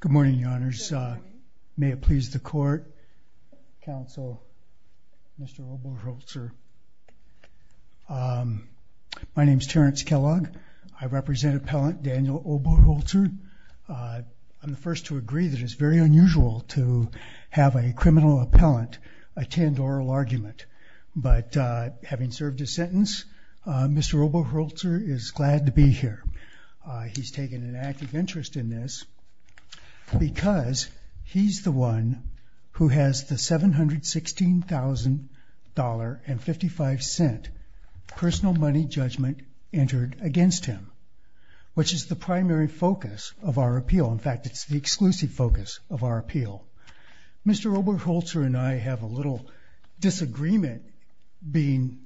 Good morning, your honors. May it please the court, counsel, Mr. Oberholtzer. My name is Terrence Kellogg. I represent appellant Daniel Oberholtzer. I'm the first to agree that it's very unusual to have a criminal appellant attend oral argument, but having served a sentence, Mr. Oberholtzer is glad to be here. He's taken an active interest in this because he's the one who has the $716,055 personal money judgment entered against him, which is the primary focus of our appeal. In fact, it's the exclusive focus of our appeal. Mr. Oberholtzer and I have a little disagreement being,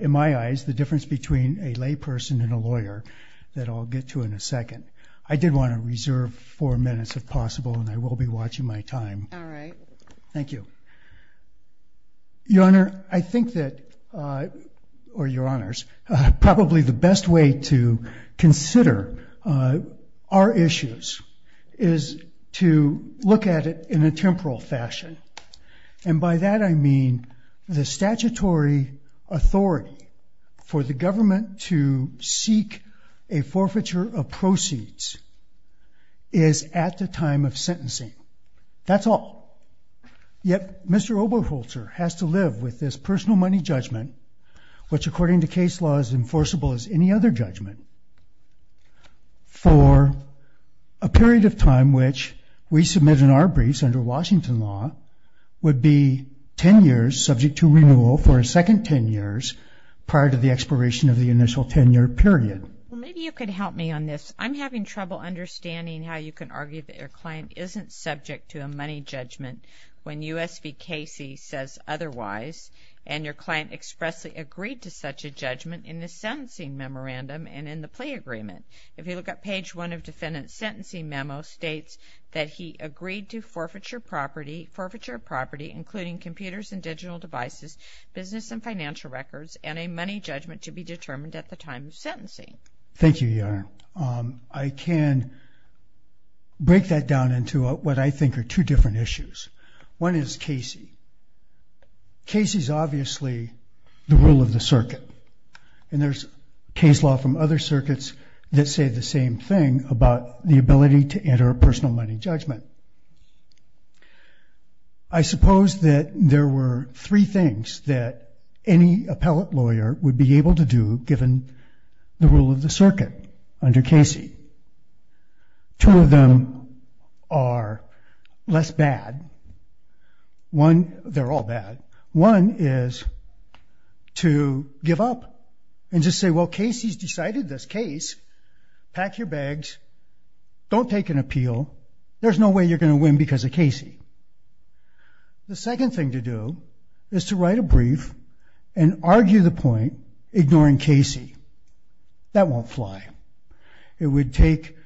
in my eyes, the difference between a layperson and a lawyer that I'll get to in a second. I did want to reserve four minutes if possible, and I will be watching my time. Thank you. Your honor, I think that, or your honors, probably the best way to consider our issues is to look at it in a temporal fashion, and by that I mean the statutory authority for the government to seek a forfeiture of proceeds is at the time of sentencing. That's all. Yet, Mr. Oberholtzer has to live with this personal money judgment, which according to case law is enforceable as any other judgment, for a period of time which, we submit in our briefs under Washington law, would be 10 years subject to renewal for a second 10 years prior to the expiration of the initial 10-year period. Maybe you could help me on this. I'm having trouble understanding how you can argue that your client isn't subject to a money judgment when U.S. v. Casey says otherwise, and your client expressly agreed to such a judgment in the sentencing memorandum and in the plea agreement. If you look at page 1 of defendant's sentencing memo, it states that he agreed to forfeiture of property, including computers and digital devices, business and financial records, and a money judgment to be determined at the time of sentencing. Thank you, your honor. I can break that down into what I think are two different issues. One is Casey. Casey's obviously the rule of the circuit, and there's case law from other circuits that say the same thing about the ability to enter a personal money judgment. I suppose that there were three things that any appellate lawyer would be able to do given the rules of the circuit under Casey. Two of them are less bad. They're all bad. One is to give up and just say, well, Casey's decided this case. Pack your bags. Don't take an appeal. There's no way you're going to win because of Casey. The second thing to do is to write a brief and argue the point, ignoring Casey. That won't fly. It would take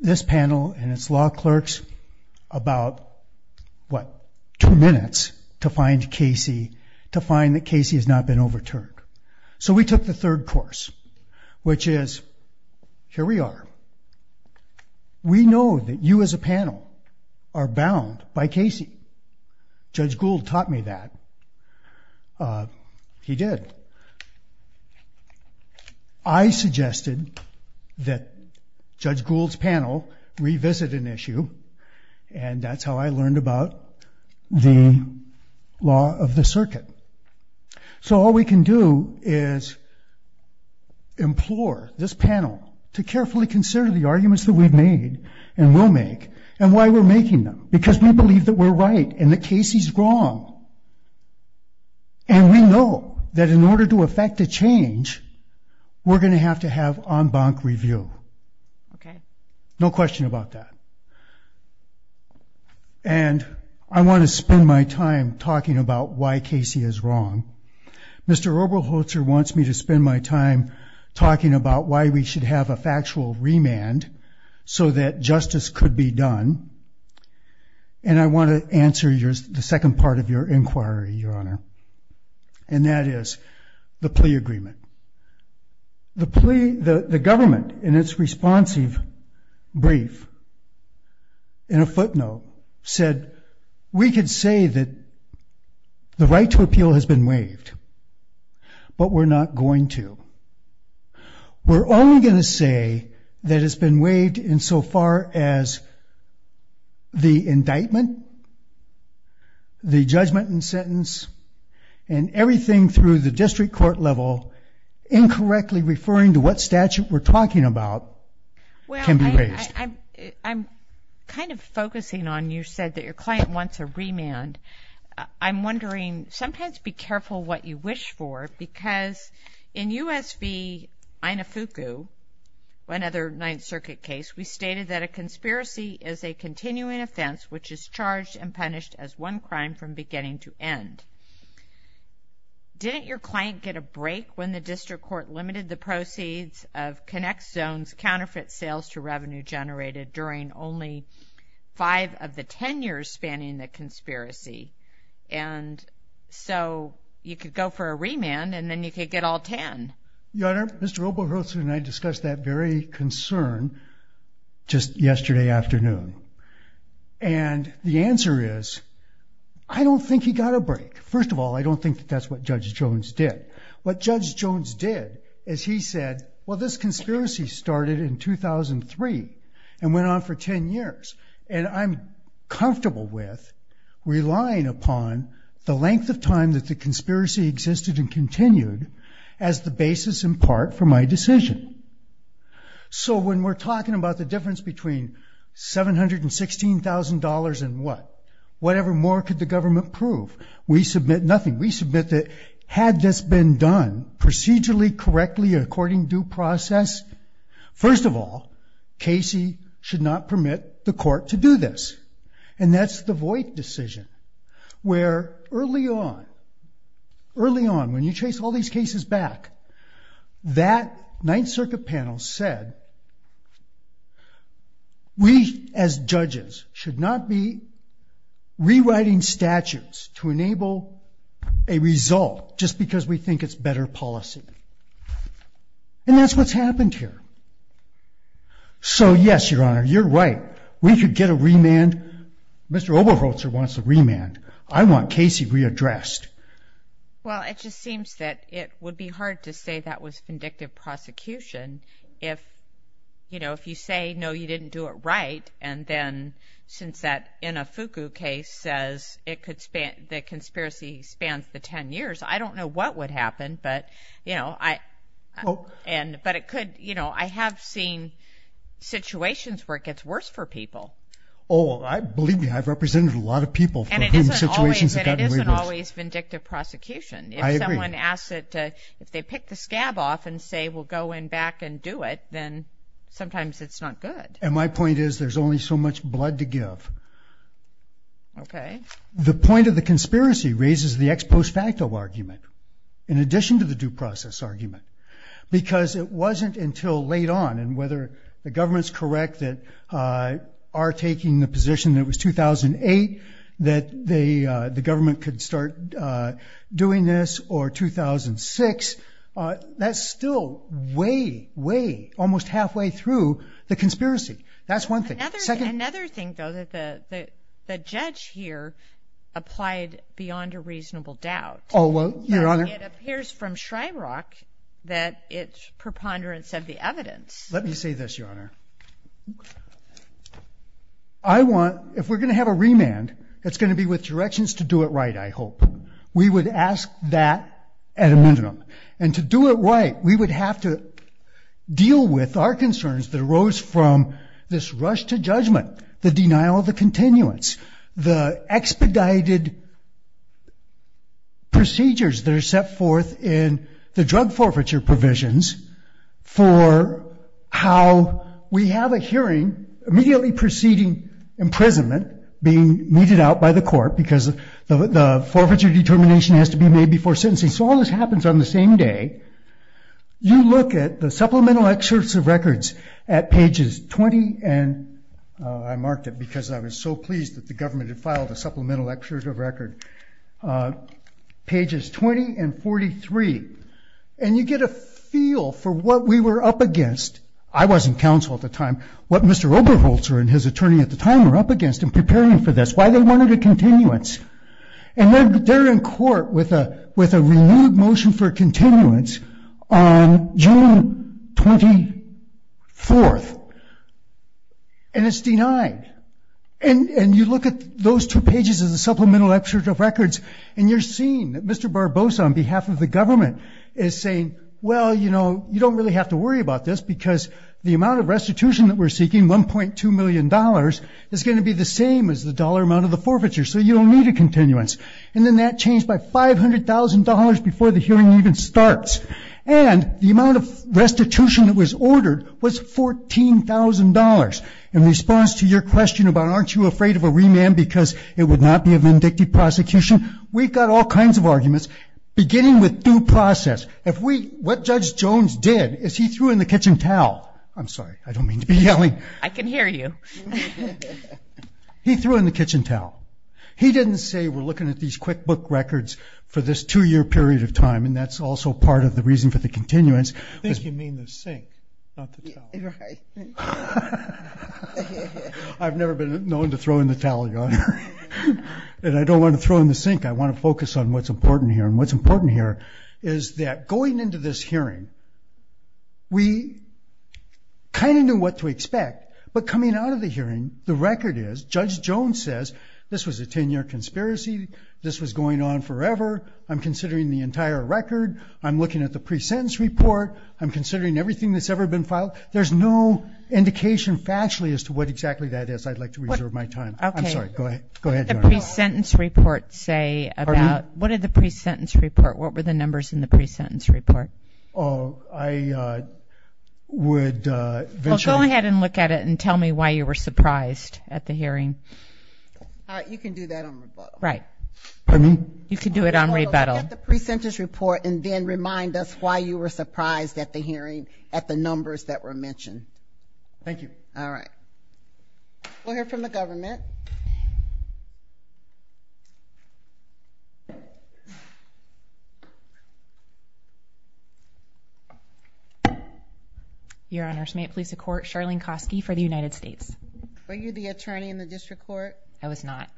this panel and its law clerks about, what, two minutes to find Casey, to find that Casey has not been overturned. So we took the third course, which is, here we are. We know that you as a panel are bound by Casey. Judge Gould taught me that. He did. I suggested that Judge Gould's panel revisit an issue, and that's how I learned about the law of the circuit. So all we can do is implore this panel to carefully consider the arguments that we've made and will make, and why we're making them. Because we believe that we're right and that to effect a change, we're going to have to have en banc review. No question about that. And I want to spend my time talking about why Casey is wrong. Mr. Oberholzer wants me to spend my time talking about why we should have a factual remand so that justice could be done. And I want to answer the second part of your inquiry, Your Honor, and that is the plea agreement. The government, in its responsive brief, in a footnote, said, we could say that the right to appeal has been waived, but we're not going to. We're only going to say that it's been waived in so far as the judgment and sentence, and everything through the district court level, incorrectly referring to what statute we're talking about, can be waived. Well, I'm kind of focusing on, you said that your client wants a remand. I'm wondering, sometimes be careful what you wish for, because in U.S. v. crime from beginning to end. Didn't your client get a break when the district court limited the proceeds of Connect Zone's counterfeit sales-to-revenue generated during only five of the ten years spanning the conspiracy? And so you could go for a remand, and then you could get all ten. Your Honor, Mr. I don't think he got a break. First of all, I don't think that that's what Judge Jones did. What Judge Jones did is he said, well, this conspiracy started in 2003 and went on for ten years, and I'm comfortable with relying upon the length of time that the conspiracy existed and continued as the basis in part for my decision. So when we're talking about the difference between $716,000 and what? Whatever more could the government prove? We submit nothing. We submit that had this been done procedurally, correctly, according due process, first of all, Casey should not permit the court to do this. And that's the Voight decision, where early on, early on, when you trace all these cases back, that Ninth Circuit panel said, we as judges should not be rewriting statutes to enable a result just because we think it's better policy. And that's what's happened here. So yes, Your Honor, you're right. We could get a remand. Mr. Oberholzer wants a remand. I want Casey readdressed. Well, it just seems that it would be hard to say that was vindictive prosecution if, you know, if you say, no, you didn't do it right. And then since that Inafuku case says it could span, the conspiracy spans the ten years, I don't know what would happen. But, you know, I, and, but it could, you know, I have seen situations where it gets worse for people. Oh, I believe you. I've represented a lot of people. And it isn't always, it isn't always vindictive prosecution. If someone asks it, if they pick the scab off and say, we'll go in back and do it, then sometimes it's not good. And my point is, there's only so much blood to give. Okay. The point of the conspiracy raises the ex post facto argument, in addition to the due process argument, because it wasn't until late on and whether the government's correct that are taking the position that it was 2008, that they, the government could start doing this or 2006. That's still way, way, almost halfway through the conspiracy. That's one thing. Another thing, though, that the judge here applied beyond a reasonable doubt. Oh, well, Your Honor. It appears from Shryrock that it's preponderance of the evidence. Let me say this, Your Honor. I want, if we're going to have a remand, it's going to be with And to do it right, we would have to deal with our concerns that arose from this rush to judgment, the denial of the continuance, the expedited procedures that are set forth in the drug forfeiture provisions for how we have a hearing immediately preceding imprisonment being meted out by the court because the forfeiture determination has to be made before sentencing. So all this happens on the same day. You look at the supplemental excerpts of records at pages 20, and I marked it because I was so pleased that the government had filed a supplemental excerpt of record. Pages 20 and 43. And you get a feel for what we were up against. I was in counsel at the time. What Mr. Oberholzer and his attorney at the time were up against in preparing for this, why they wanted a continuance. And they're in court with a renewed motion for continuance on June 24th. And it's denied. And you look at those two pages of the supplemental excerpt of records, and you're seeing that Mr. Barbosa on behalf of the government is saying, well, you know, you don't really have to worry about this because the amount of restitution that we're seeking, $1.2 million, is going to be the same as the dollar amount of the forfeiture. So you don't need a continuance. And then that changed by $500,000 before the hearing even starts. And the amount of restitution that was ordered was $14,000. In response to your question about aren't you afraid of a remand because it would not be a vindictive prosecution, we've got all kinds of arguments, beginning with due process. What Judge Jones did is he threw in the kitchen towel. I'm sorry, I don't mean to be yelling. I can hear you. He threw in the kitchen towel. He didn't say we're looking at these QuickBook records for this two-year period of time, and that's also part of the reason for the continuance. I think you mean the sink, not the towel. I've never been known to throw in the towel, Your Honor. And I don't want to throw in the sink. I want to focus on what's important here. And what's important here is that going into this hearing, we kind of knew what to expect. But coming out of the hearing, the record is, Judge Jones says, this was a 10-year conspiracy. This was going on forever. I'm considering the entire record. I'm looking at the pre-sentence report. I'm considering everything that's ever been filed. There's no indication factually as to what exactly that is. I'd like to reserve my time. I'm sorry. Go ahead, Your Honor. What did the pre-sentence report say about – what were the numbers in the pre-sentence report? Oh, I would eventually – Well, go ahead and look at it and tell me why you were surprised at the hearing. All right. You can do that on rebuttal. Right. Pardon me? You can do it on rebuttal. You can look at the pre-sentence report and then remind us why you were surprised at the hearing at the numbers that were mentioned. Thank you. All right. We'll hear from the government. Your Honors, may it please the Court, Charlene Kosky for the United States. Were you the attorney in the district court? I was not.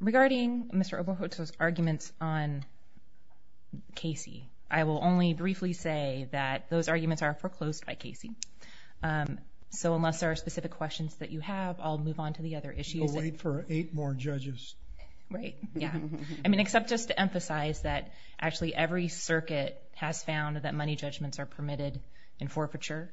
Regarding Mr. Oberholtz's arguments on Casey, I will only briefly say that those arguments are foreclosed by Casey. So unless there are specific questions that you have, I'll move on to the other issues. We'll wait for eight more judges. Right. Yeah. I mean, except just to emphasize that actually every circuit has found that money judgments are permitted in forfeiture.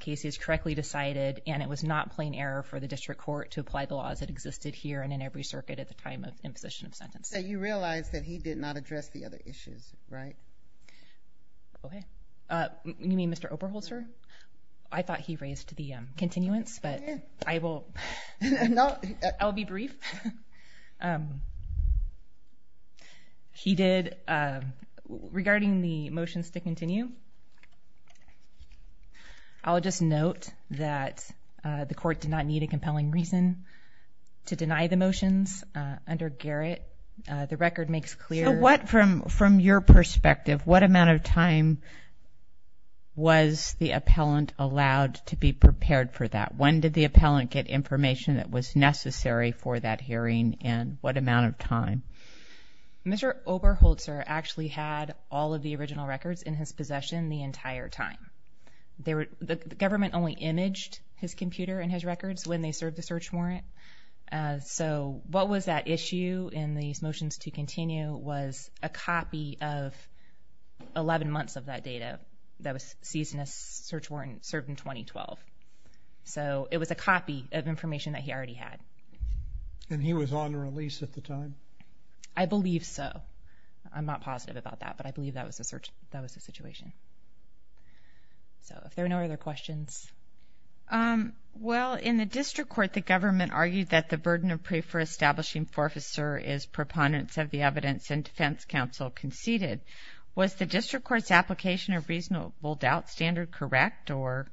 Casey has correctly decided, and it was not plain error for the district court to apply the laws that existed here and in every circuit at the time of imposition of sentence. So you realize that he did not address the other issues, right? Okay. You mean Mr. Oberholtzer? I thought he raised the continuance, but I will be brief. He did. Regarding the motions to continue, I'll just note that the court did not need a compelling reason to deny the motions. Under Garrett, the record makes clear. So what, from your perspective, what amount of time was the appellant allowed to be prepared for that? When did the appellant get information that was necessary for that hearing and what amount of time? Mr. Oberholtzer actually had all of the original records in his possession the entire time. The government only imaged his computer and his records when they served the search warrant. So what was that issue in these motions to continue was a copy of 11 months of that data that was seized in a search warrant served in 2012. So it was a copy of information that he already had. And he was on release at the time? I believe so. I'm not positive about that, but I believe that was the situation. So if there are no other questions. Well, in the district court, the government argued that the burden of pay for establishing forfeiture is preponderance of the evidence and defense counsel conceded. Was the district court's application of reasonable doubt standard correct or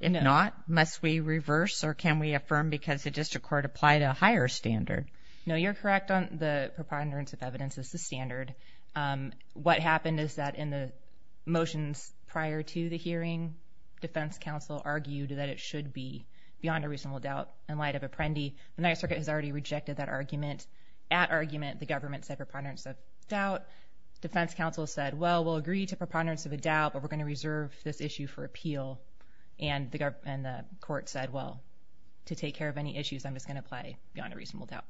not? No. Must we reverse or can we affirm because the district court applied a higher standard? No, you're correct on the preponderance of evidence as the standard. What happened is that in the motions prior to the hearing, defense counsel argued that it should be beyond a reasonable doubt. In light of Apprendi, the Ninth Circuit has already rejected that argument. At argument, the government said preponderance of doubt. Defense counsel said, well, we'll agree to preponderance of a doubt, but we're going to reserve this issue for appeal. And the court said, well, to take care of any issues, I'm just going to apply beyond a reasonable doubt.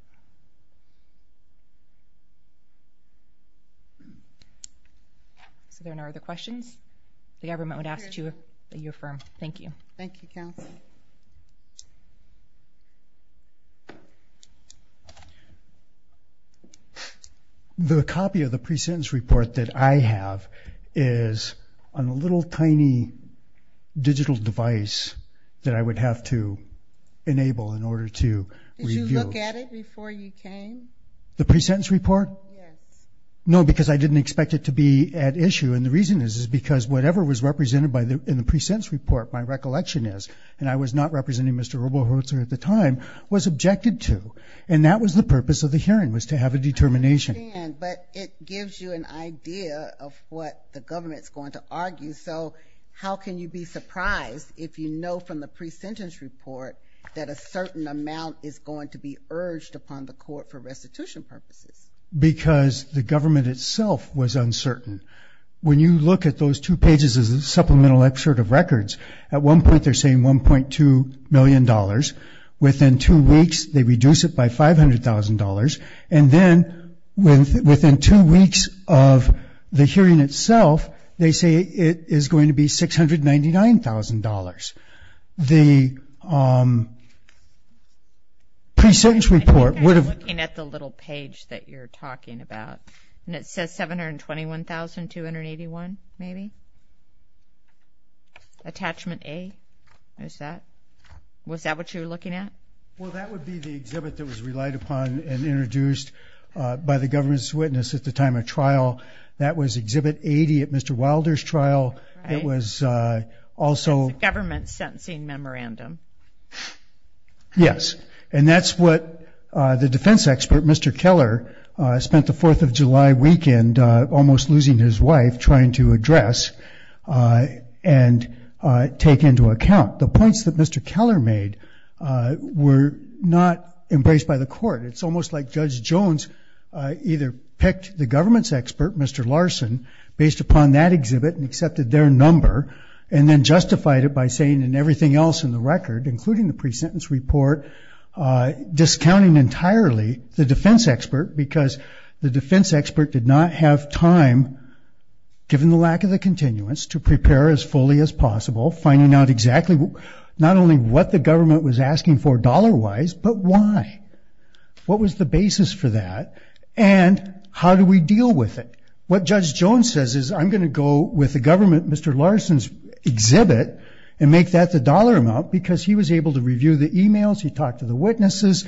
So if there are no other questions, the government would ask that you affirm. Thank you. Thank you, counsel. The copy of the pre-sentence report that I have is on a little tiny digital device that I would have to enable in order to review. Did you look at it before you came? The pre-sentence report? Yes. No, because I didn't expect it to be at issue. And the reason is, is because whatever was represented in the pre-sentence report, my recollection is, and I was not representing Mr. Robohertz at the time, was objected to. And that was the purpose of the hearing, was to have a determination. But it gives you an idea of what the government's going to argue. So how can you be surprised if you know from the pre-sentence report that a certain amount is going to be urged upon the court for restitution purposes? Because the government itself was uncertain. When you look at those two pages as a supplemental excerpt of records, at one point they're saying $1.2 million. Within two weeks, they reduce it by $500,000. And then within two weeks of the hearing itself, they say it is going to be $699,000. The pre-sentence report would have- I think I was looking at the little page that you're talking about. And it says $721,281 maybe? Attachment A, is that? Was that what you were looking at? Well, that would be the exhibit that was relied upon and introduced by the government's witness at the time of trial. It was a government sentencing memorandum. Yes. And that's what the defense expert, Mr. Keller, spent the Fourth of July weekend almost losing his wife trying to address and take into account. The points that Mr. Keller made were not embraced by the court. It's almost like Judge Jones either picked the government's expert, Mr. Larson, based upon that exhibit and accepted their number, and then justified it by saying, and everything else in the record, including the pre-sentence report, discounting entirely the defense expert because the defense expert did not have time, given the lack of the continuance, to prepare as fully as possible, finding out exactly not only what the government was asking for dollar-wise, but why. What was the basis for that? And how do we deal with it? What Judge Jones says is, I'm going to go with the government, Mr. Larson's exhibit, and make that the dollar amount because he was able to review the e-mails, he talked to the witnesses,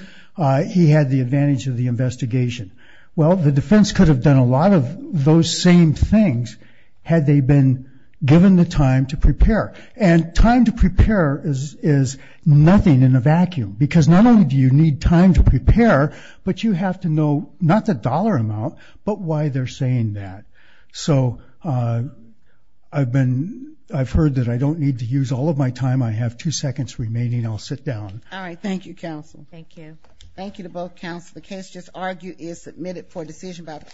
he had the advantage of the investigation. Well, the defense could have done a lot of those same things had they been given the time to prepare. And time to prepare is nothing in a vacuum because not only do you need time to prepare, but you have to know not the dollar amount, but why they're saying that. So I've heard that I don't need to use all of my time. I have two seconds remaining. I'll sit down. All right. Thank you, counsel. Thank you. Thank you to both counsel. The case just argued is submitted for decision by the court.